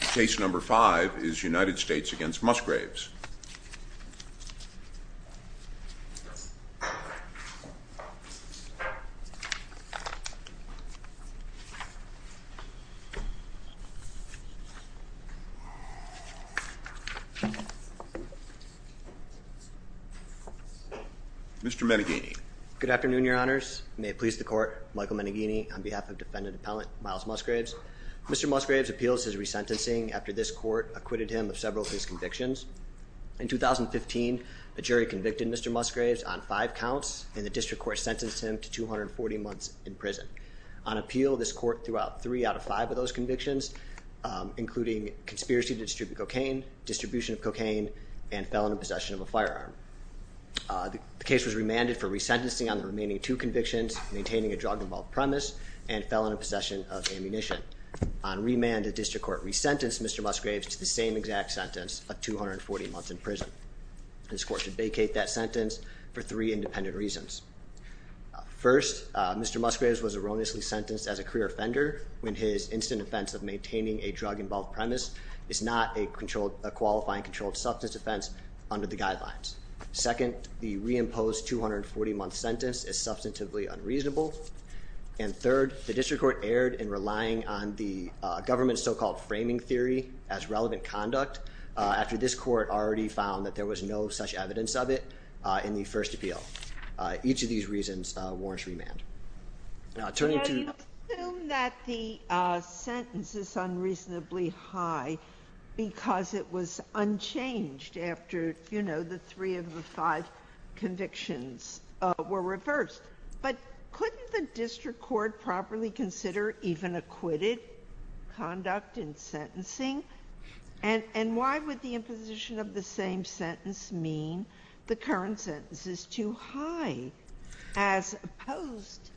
Case number five is United States v. Musgraves. Mr. Meneghini. Good afternoon, your honors. May it please the court, Michael Musgraves. Mr. Musgraves appeals his resentencing after this court acquitted him of several of his convictions. In 2015, the jury convicted Mr. Musgraves on five counts, and the district court sentenced him to 240 months in prison. On appeal, this court threw out three out of five of those convictions, including conspiracy to distribute cocaine, distribution of cocaine, and felon in possession of a firearm. The case was remanded for resentencing on the remaining two convictions, maintaining a drug-involved premise, and felon in possession of a firearm. On remand, the district court resentenced Mr. Musgraves to the same exact sentence of 240 months in prison. This court should vacate that sentence for three independent reasons. First, Mr. Musgraves was erroneously sentenced as a career offender when his instant offense of maintaining a drug-involved premise is not a qualified and controlled substance offense under the guidelines. Second, the reimposed 240-month sentence is substantively unreasonable. And third, the district court erred in relying on the government's so-called framing theory as relevant conduct after this court already found that there was no such evidence of it in the first appeal. Each of these reasons warrants remand. Now, turning to— Can I assume that the sentence is unreasonably high because it was unchanged after, you know, the three of the five convictions were reversed? But couldn't the district court properly consider even acquitted conduct in sentencing? And why would the imposition of the same sentence mean the current sentence is too high, as opposed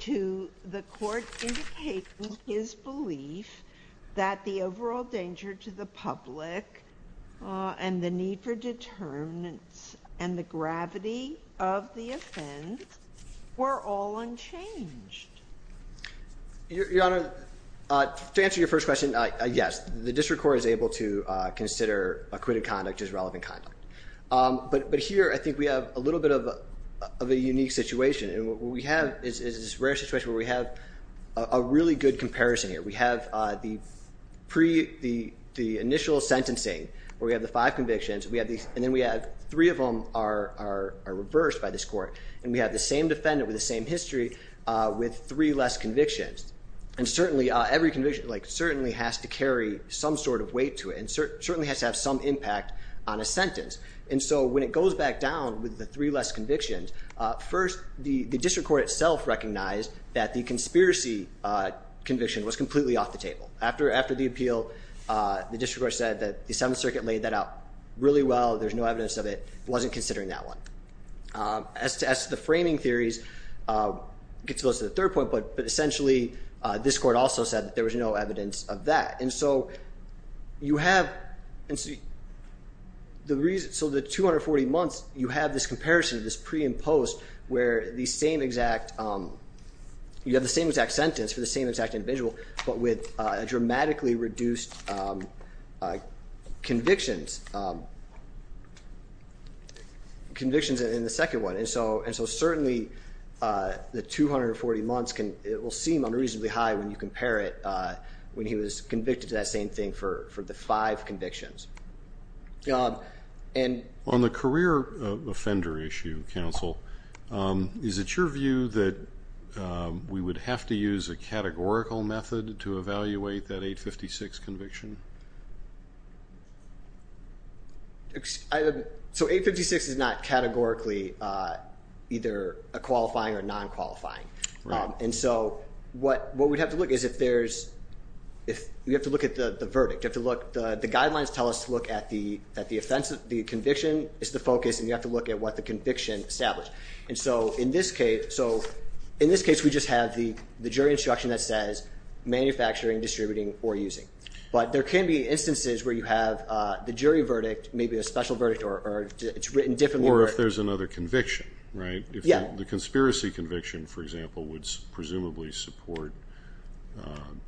to the court indicating his belief that the overall danger to the public and the need for determinants and the gravity of the offense were all unchanged? Your Honor, to answer your first question, yes, the district court is able to consider acquitted conduct as relevant conduct. But here, I think we have a little bit of a unique situation. And what we have is this rare situation where we have a really good comparison here. We have the initial sentencing, where we have the five convictions, and then we have three of them are reversed by this court. And we have the same defendant with the same history with three less convictions. And certainly, every conviction, like, certainly has to carry some sort of weight to it and certainly has to have some impact on a sentence. And so when it goes back down with the three less convictions, first, the district court itself recognized that the conspiracy conviction was completely off the table. After the appeal, the district court said that the Seventh Circuit laid that out really well. There's no evidence of it. It wasn't considering that one. As to the framing theories, it goes to the third point. But essentially, this court also said that there was no evidence of that. And so you have the reason. And so certainly, the 240 months will seem unreasonably high when you compare it when he was convicted to that same thing for the five convictions. On the career offender issue, counsel, is it your view that we would have to use a categorical method to evaluate that 856 conviction? So 856 is not categorically either a qualifying or non-qualifying. And so what we'd have to look is if there's, if you have to look at the verdict, you have to look, the guidelines tell us to look at the offense. The conviction is the focus and you have to look at what the conviction established. And so in this case, so in this case, we just have the jury instruction that says manufacturing, distributing or using. But there can be instances where you have the jury verdict, maybe a special verdict or it's written differently. Or if there's another conviction, right? Yeah. The conspiracy conviction, for example, would presumably support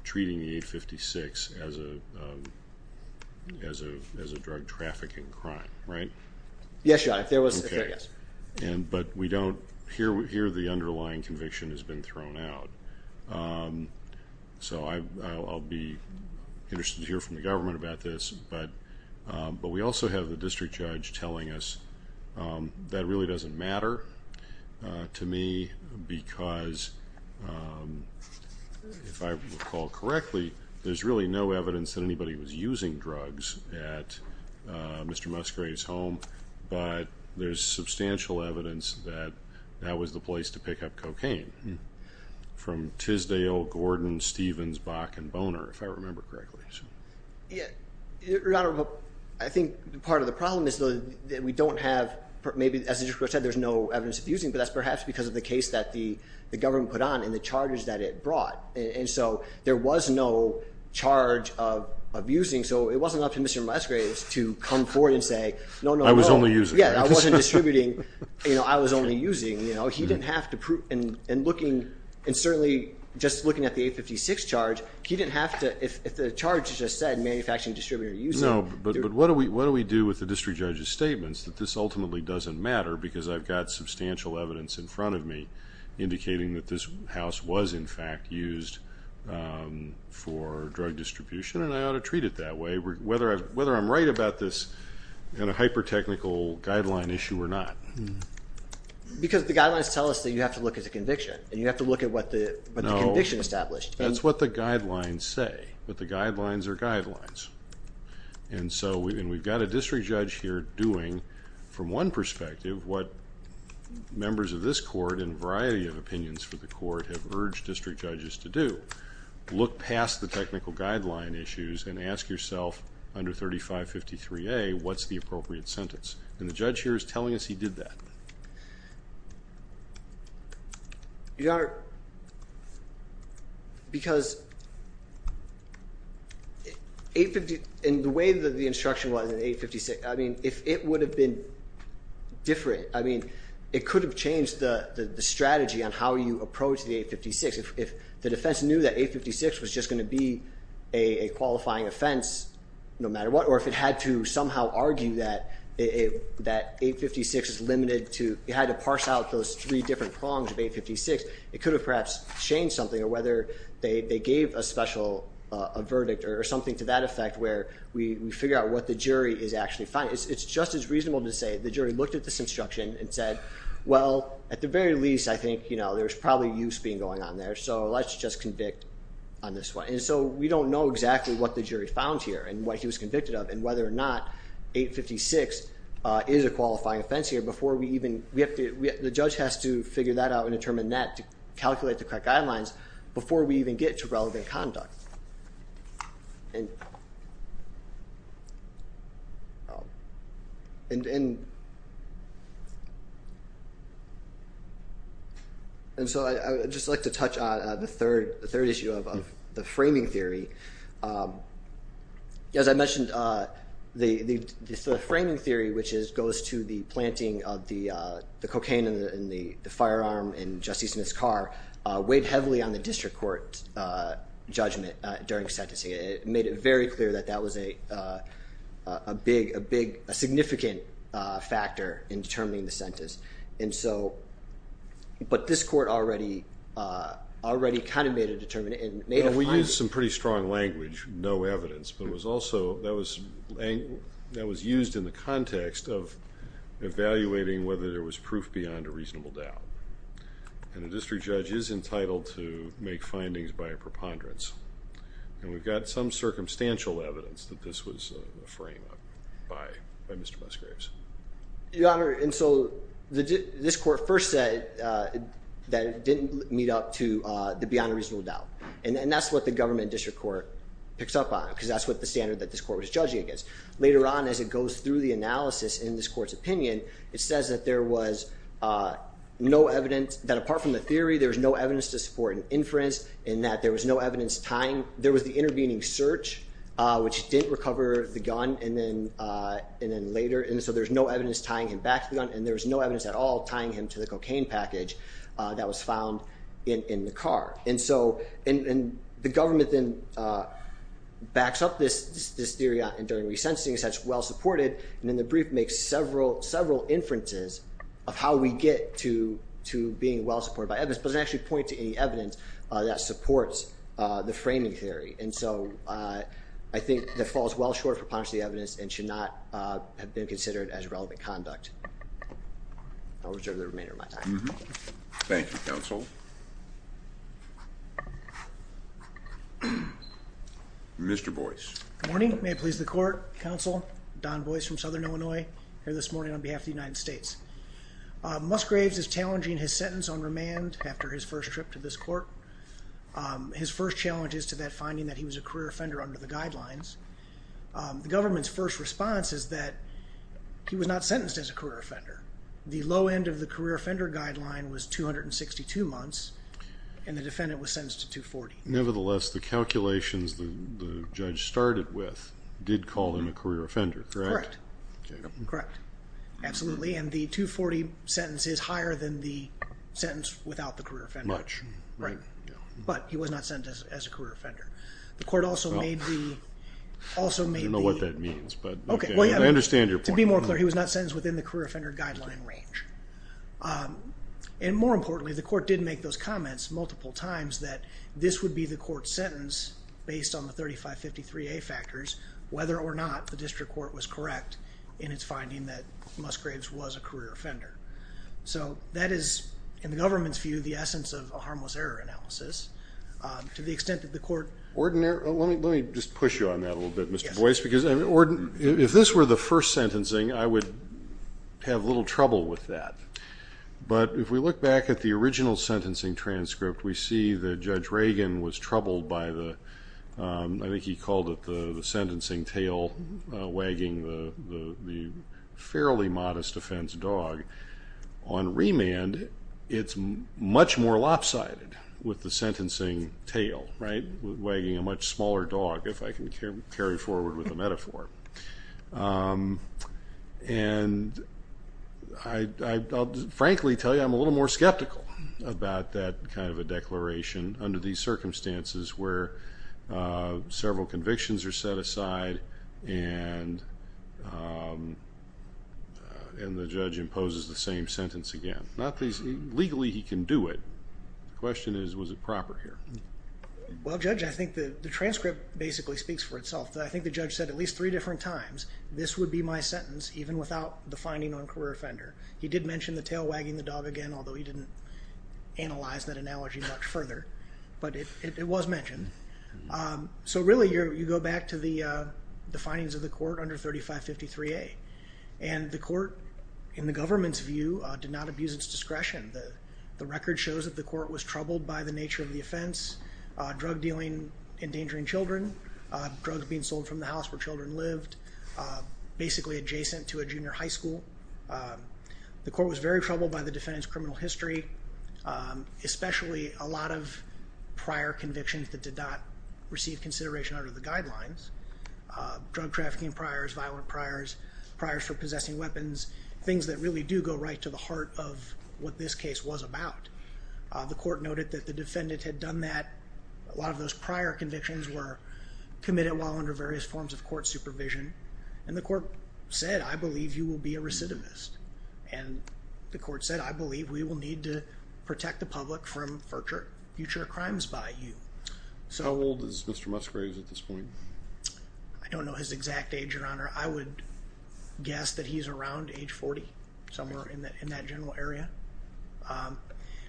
treating the 856 as a drug trafficking crime, right? Yes, Your Honor, if there was. Okay. And but we don't, here the underlying conviction has been thrown out. So I'll be interested to hear from the government about this. But we also have the district judge telling us that really doesn't matter to me because if I recall correctly, there's really no evidence that anybody was using drugs at Mr. Musgrave's home. But there's substantial evidence that that was the place to pick up cocaine from Tisdale, Gordon, Stevens, Bach, and Boner, if I remember correctly. Yeah, Your Honor, I think part of the problem is that we don't have, maybe as the district judge said, there's no evidence of using. But that's perhaps because of the case that the government put on and the charges that it brought. And so there was no charge of abusing. So it wasn't up to Mr. Musgrave to come forward and say, no, no, no. I was only using. Yeah, I wasn't distributing. I was only using. He didn't have to prove, and certainly just looking at the 856 charge, he didn't have to, if the charge just said manufacturing distributor using. No, but what do we do with the district judge's statements that this ultimately doesn't matter because I've got substantial evidence in front of me indicating that this house was, in fact, used for drug distribution. And I ought to treat it that way, whether I'm right about this in a hyper-technical guideline issue or not. Because the guidelines tell us that you have to look at the conviction, and you have to look at what the conviction established. No, that's what the guidelines say, but the guidelines are guidelines. And so, and we've got a district judge here doing, from one perspective, what members of this court and a variety of opinions for the court have urged district judges to do. Look past the technical guideline issues and ask yourself, under 3553A, what's the appropriate sentence? And the judge here is telling us he did that. Your Honor, because in the way that the instruction was in 856, I mean, if it would have been different, I mean, it could have changed the strategy on how you approach the 856. If the defense knew that 856 was just going to be a qualifying offense, no matter what, or if it had to somehow argue that 856 is limited to, it had to parse out those three different prongs of 856, it could have perhaps changed something, or whether they gave a special, a verdict, or something to that effect where we figure out what the jury is actually finding. It's just as reasonable to say the jury looked at this instruction and said, well, at the very least, I think, you know, there's probably use being going on there, so let's just convict on this one. And so, we don't know exactly what the jury found here and what he was convicted of and whether or not 856 is a qualifying offense here before we even, we have to, the judge has to figure that out and determine that to calculate the correct guidelines before we even get to relevant conduct. And so, I would just like to touch on the third issue of the framing theory. As I mentioned, the framing theory, which goes to the planting of the cocaine in the firearm in Justice Smith's car, weighed heavily on the district court judgment during sentencing. It made it very clear that that was a big, a significant factor in determining the sentence. And so, but this court already kind of made a determination and made a finding. We used some pretty strong language, no evidence, but it was also, that was used in the context of evaluating whether there was proof beyond a reasonable doubt. And a district judge is entitled to make findings by a preponderance. And we've got some circumstantial evidence that this was a frame-up by Mr. Musgraves. Your Honor, and so, this court first said that it didn't meet up to the beyond a reasonable doubt. And that's what the government district court picks up on, because that's what the standard that this court was judging against. Later on, as it goes through the analysis in this court's opinion, it says that there was no evidence, that apart from the theory, there was no evidence to support an inference. And that there was no evidence tying, there was the intervening search, which didn't recover the gun. And then later, and so there's no evidence tying him back to the gun. And there was no evidence at all tying him to the cocaine package that was found in the car. And so, and the government then backs up this theory during re-sensing, says it's well-supported. And then the brief makes several, several inferences of how we get to being well-supported by evidence. But it doesn't actually point to any evidence that supports the framing theory. And so, I think that falls well short of preponderance of the evidence and should not have been considered as relevant conduct. I'll reserve the remainder of my time. Thank you, counsel. Mr. Boyce. Good morning. May it please the court. Counsel, Don Boyce from Southern Illinois, here this morning on behalf of the United States. Musgraves is challenging his sentence on remand after his first trip to this court. His first challenge is to that finding that he was a career offender under the guidelines. The government's first response is that he was not sentenced as a career offender. The low end of the career offender guideline was 262 months, and the defendant was sentenced to 240. Nevertheless, the calculations the judge started with did call him a career offender, correct? Correct. Correct. Absolutely. And the 240 sentence is higher than the sentence without the career offender. Much. Right. But he was not sentenced as a career offender. The court also made the, also made the... I don't know what that means, but I understand your point. To be more clear, he was not sentenced within the career offender guideline range. And more importantly, the court did make those comments multiple times that this would be the court's sentence based on the 3553A factors, whether or not the district court was correct in its finding that Musgraves was a career offender. So that is, in the government's view, the essence of a harmless error analysis. To the extent that the court... Ordinary, let me just push you on that a little bit, Mr. Boyce. If this were the first sentencing, I would have a little trouble with that. But if we look back at the original sentencing transcript, we see that Judge Reagan was troubled by the, I think he called it the sentencing tail wagging the fairly modest offense dog. On remand, it's much more lopsided with the sentencing tail, right? Wagging a much smaller dog, if I can carry forward with a metaphor. And I'll frankly tell you, I'm a little more skeptical about that kind of a declaration under these circumstances where several convictions are set aside and the judge imposes the same sentence again. Legally, he can do it. The question is, was it proper here? Well, Judge, I think the transcript basically speaks for itself. I think the judge said at least three different times, this would be my sentence even without the finding on career offender. He did mention the tail wagging the dog again, although he didn't analyze that analogy much further. But it was mentioned. So really, you go back to the findings of the court under 3553A. And the court, in the government's view, did not abuse its discretion. The record shows that the court was troubled by the nature of the offense. Drug dealing, endangering children, drugs being sold from the house where children lived, basically adjacent to a junior high school. The court was very troubled by the defendant's criminal history, especially a lot of prior convictions that did not receive consideration under the guidelines. Drug trafficking priors, violent priors, priors for possessing weapons, things that really do go right to the heart of what this case was about. The court noted that the defendant had done that. A lot of those prior convictions were committed while under various forms of court supervision. And the court said, I believe you will be a recidivist. And the court said, I believe we will need to protect the public from future crimes by you. How old is Mr. Musgraves at this point? I don't know his exact age, Your Honor. I would guess that he's around age 40, somewhere in that general area.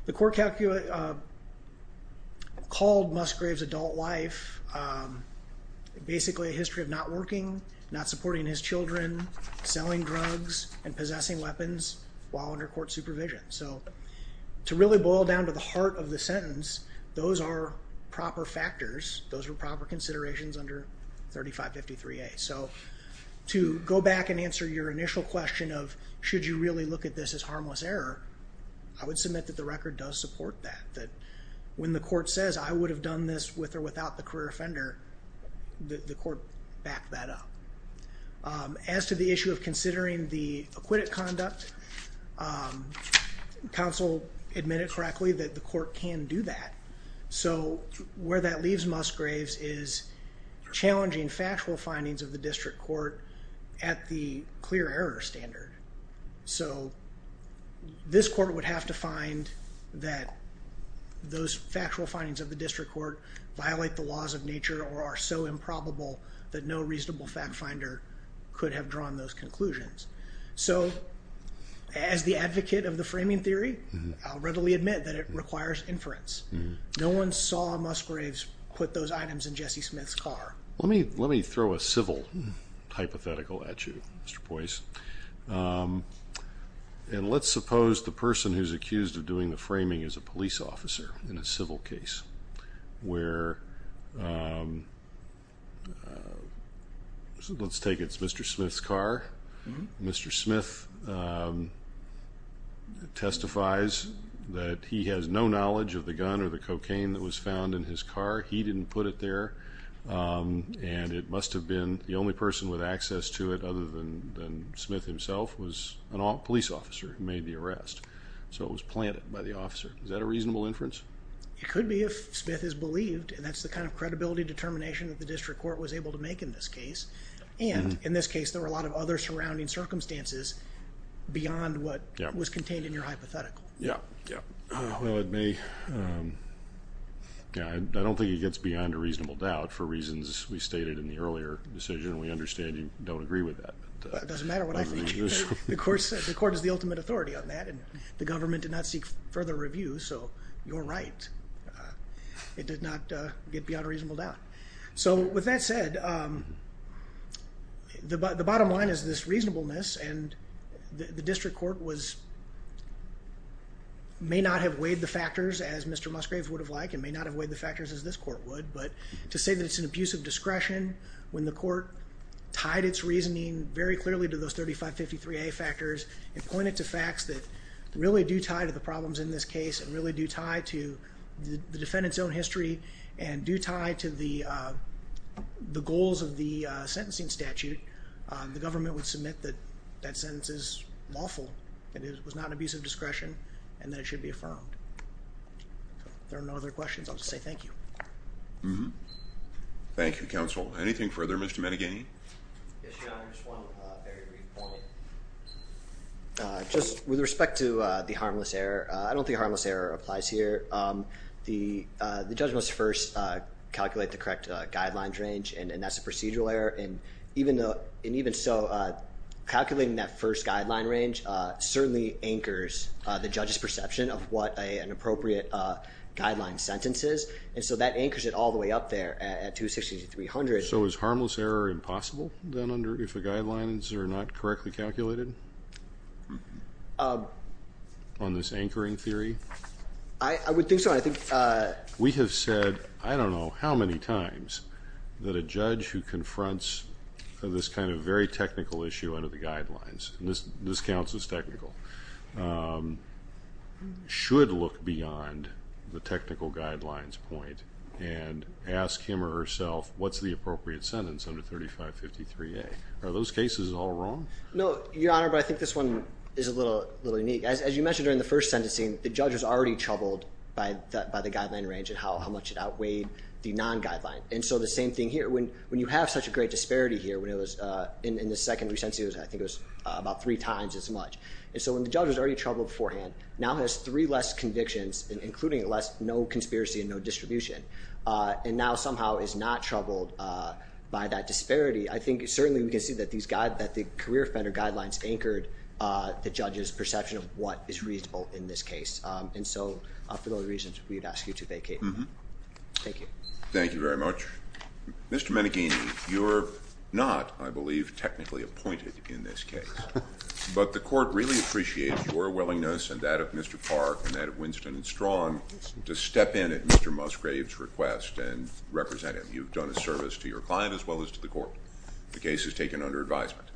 The court called Musgraves' adult life basically a history of not working, not supporting his children, selling drugs, and possessing weapons while under court supervision. So to really boil down to the heart of the sentence, those are proper factors. Those were proper considerations under 3553A. So to go back and answer your initial question of, should you really look at this as harmless error, I would submit that the record does support that. That when the court says, I would have done this with or without the career offender, the court backed that up. As to the issue of considering the acquitted conduct, counsel admitted correctly that the court can do that. So where that leaves Musgraves is challenging factual findings of the district court at the clear error standard. So this court would have to find that those factual findings of the district court violate the laws of nature or are so improbable that no reasonable fact finder could have drawn those conclusions. So as the advocate of the framing theory, I'll readily admit that it requires inference. No one saw Musgraves put those items in Jesse Smith's car. Let me throw a civil hypothetical at you, Mr. Poise. And let's suppose the person who's accused of doing the framing is a police officer in a civil case where, let's take it's Mr. Smith's car. Mr. Smith testifies that he has no knowledge of the gun or the cocaine that was found in his car. He didn't put it there. And it must have been the only person with access to it than Smith himself was a police officer who made the arrest. So it was planted by the officer. Is that a reasonable inference? It could be if Smith is believed. And that's the kind of credibility determination that the district court was able to make in this case. And in this case, there were a lot of other surrounding circumstances beyond what was contained in your hypothetical. Yeah, yeah. I don't think it gets beyond a reasonable doubt for reasons we stated in the earlier decision. We understand you don't agree with that. It doesn't matter what I think. The court is the ultimate authority on that. And the government did not seek further review. So you're right. It did not get beyond a reasonable doubt. So with that said, the bottom line is this reasonableness. And the district court was, may not have weighed the factors as Mr. Musgrave would have liked and may not have weighed the factors as this court would. But to say that it's an abuse of discretion when the court tied its reasoning very clearly to those 3553A factors and pointed to facts that really do tie to the problems in this case and really do tie to the defendant's own history and do tie to the goals of the sentencing statute, the government would submit that that sentence is lawful and it was not an abuse of discretion and that it should be affirmed. There are no other questions. I'll just say thank you. Mm-hmm. Thank you, counsel. Anything further? Mr. Meneghani. Yes, your honor. Just one very brief point. Just with respect to the harmless error, I don't think harmless error applies here. The judge must first calculate the correct guidelines range and that's a procedural error. And even so, calculating that first guideline range certainly anchors the judge's perception of what an appropriate guideline sentence is. And so that anchors it all the way up there at 260 to 300. So is harmless error impossible then under if the guidelines are not correctly calculated? On this anchoring theory? I would think so. We have said, I don't know how many times, that a judge who confronts this kind of very technical issue under the guidelines, and this counts as technical, should look beyond the technical guidelines point and ask him or herself, what's the appropriate sentence under 3553A? Are those cases all wrong? No, your honor. But I think this one is a little unique. As you mentioned during the first sentencing, the judge was already troubled by the guideline range and how much it outweighed the non-guideline. And so the same thing here. When you have such a great disparity here, when it was in the second recency, I think it was about three times as much. And so when the judge was already troubled beforehand, now has three less convictions, including less, no conspiracy and no distribution. And now somehow is not troubled by that disparity. I think certainly we can see that the career offender guidelines anchored the judge's perception of what is reasonable in this case. And so for those reasons, we'd ask you to vacate. Thank you. Thank you very much. Mr. Meneghini, you're not, I believe, technically appointed in this case. But the court really appreciates your willingness and that of Mr. Park and that of Winston and Strong to step in at Mr. Musgrave's request and represent him. You've done a service to your client as well as to the court. The case is taken under advisement.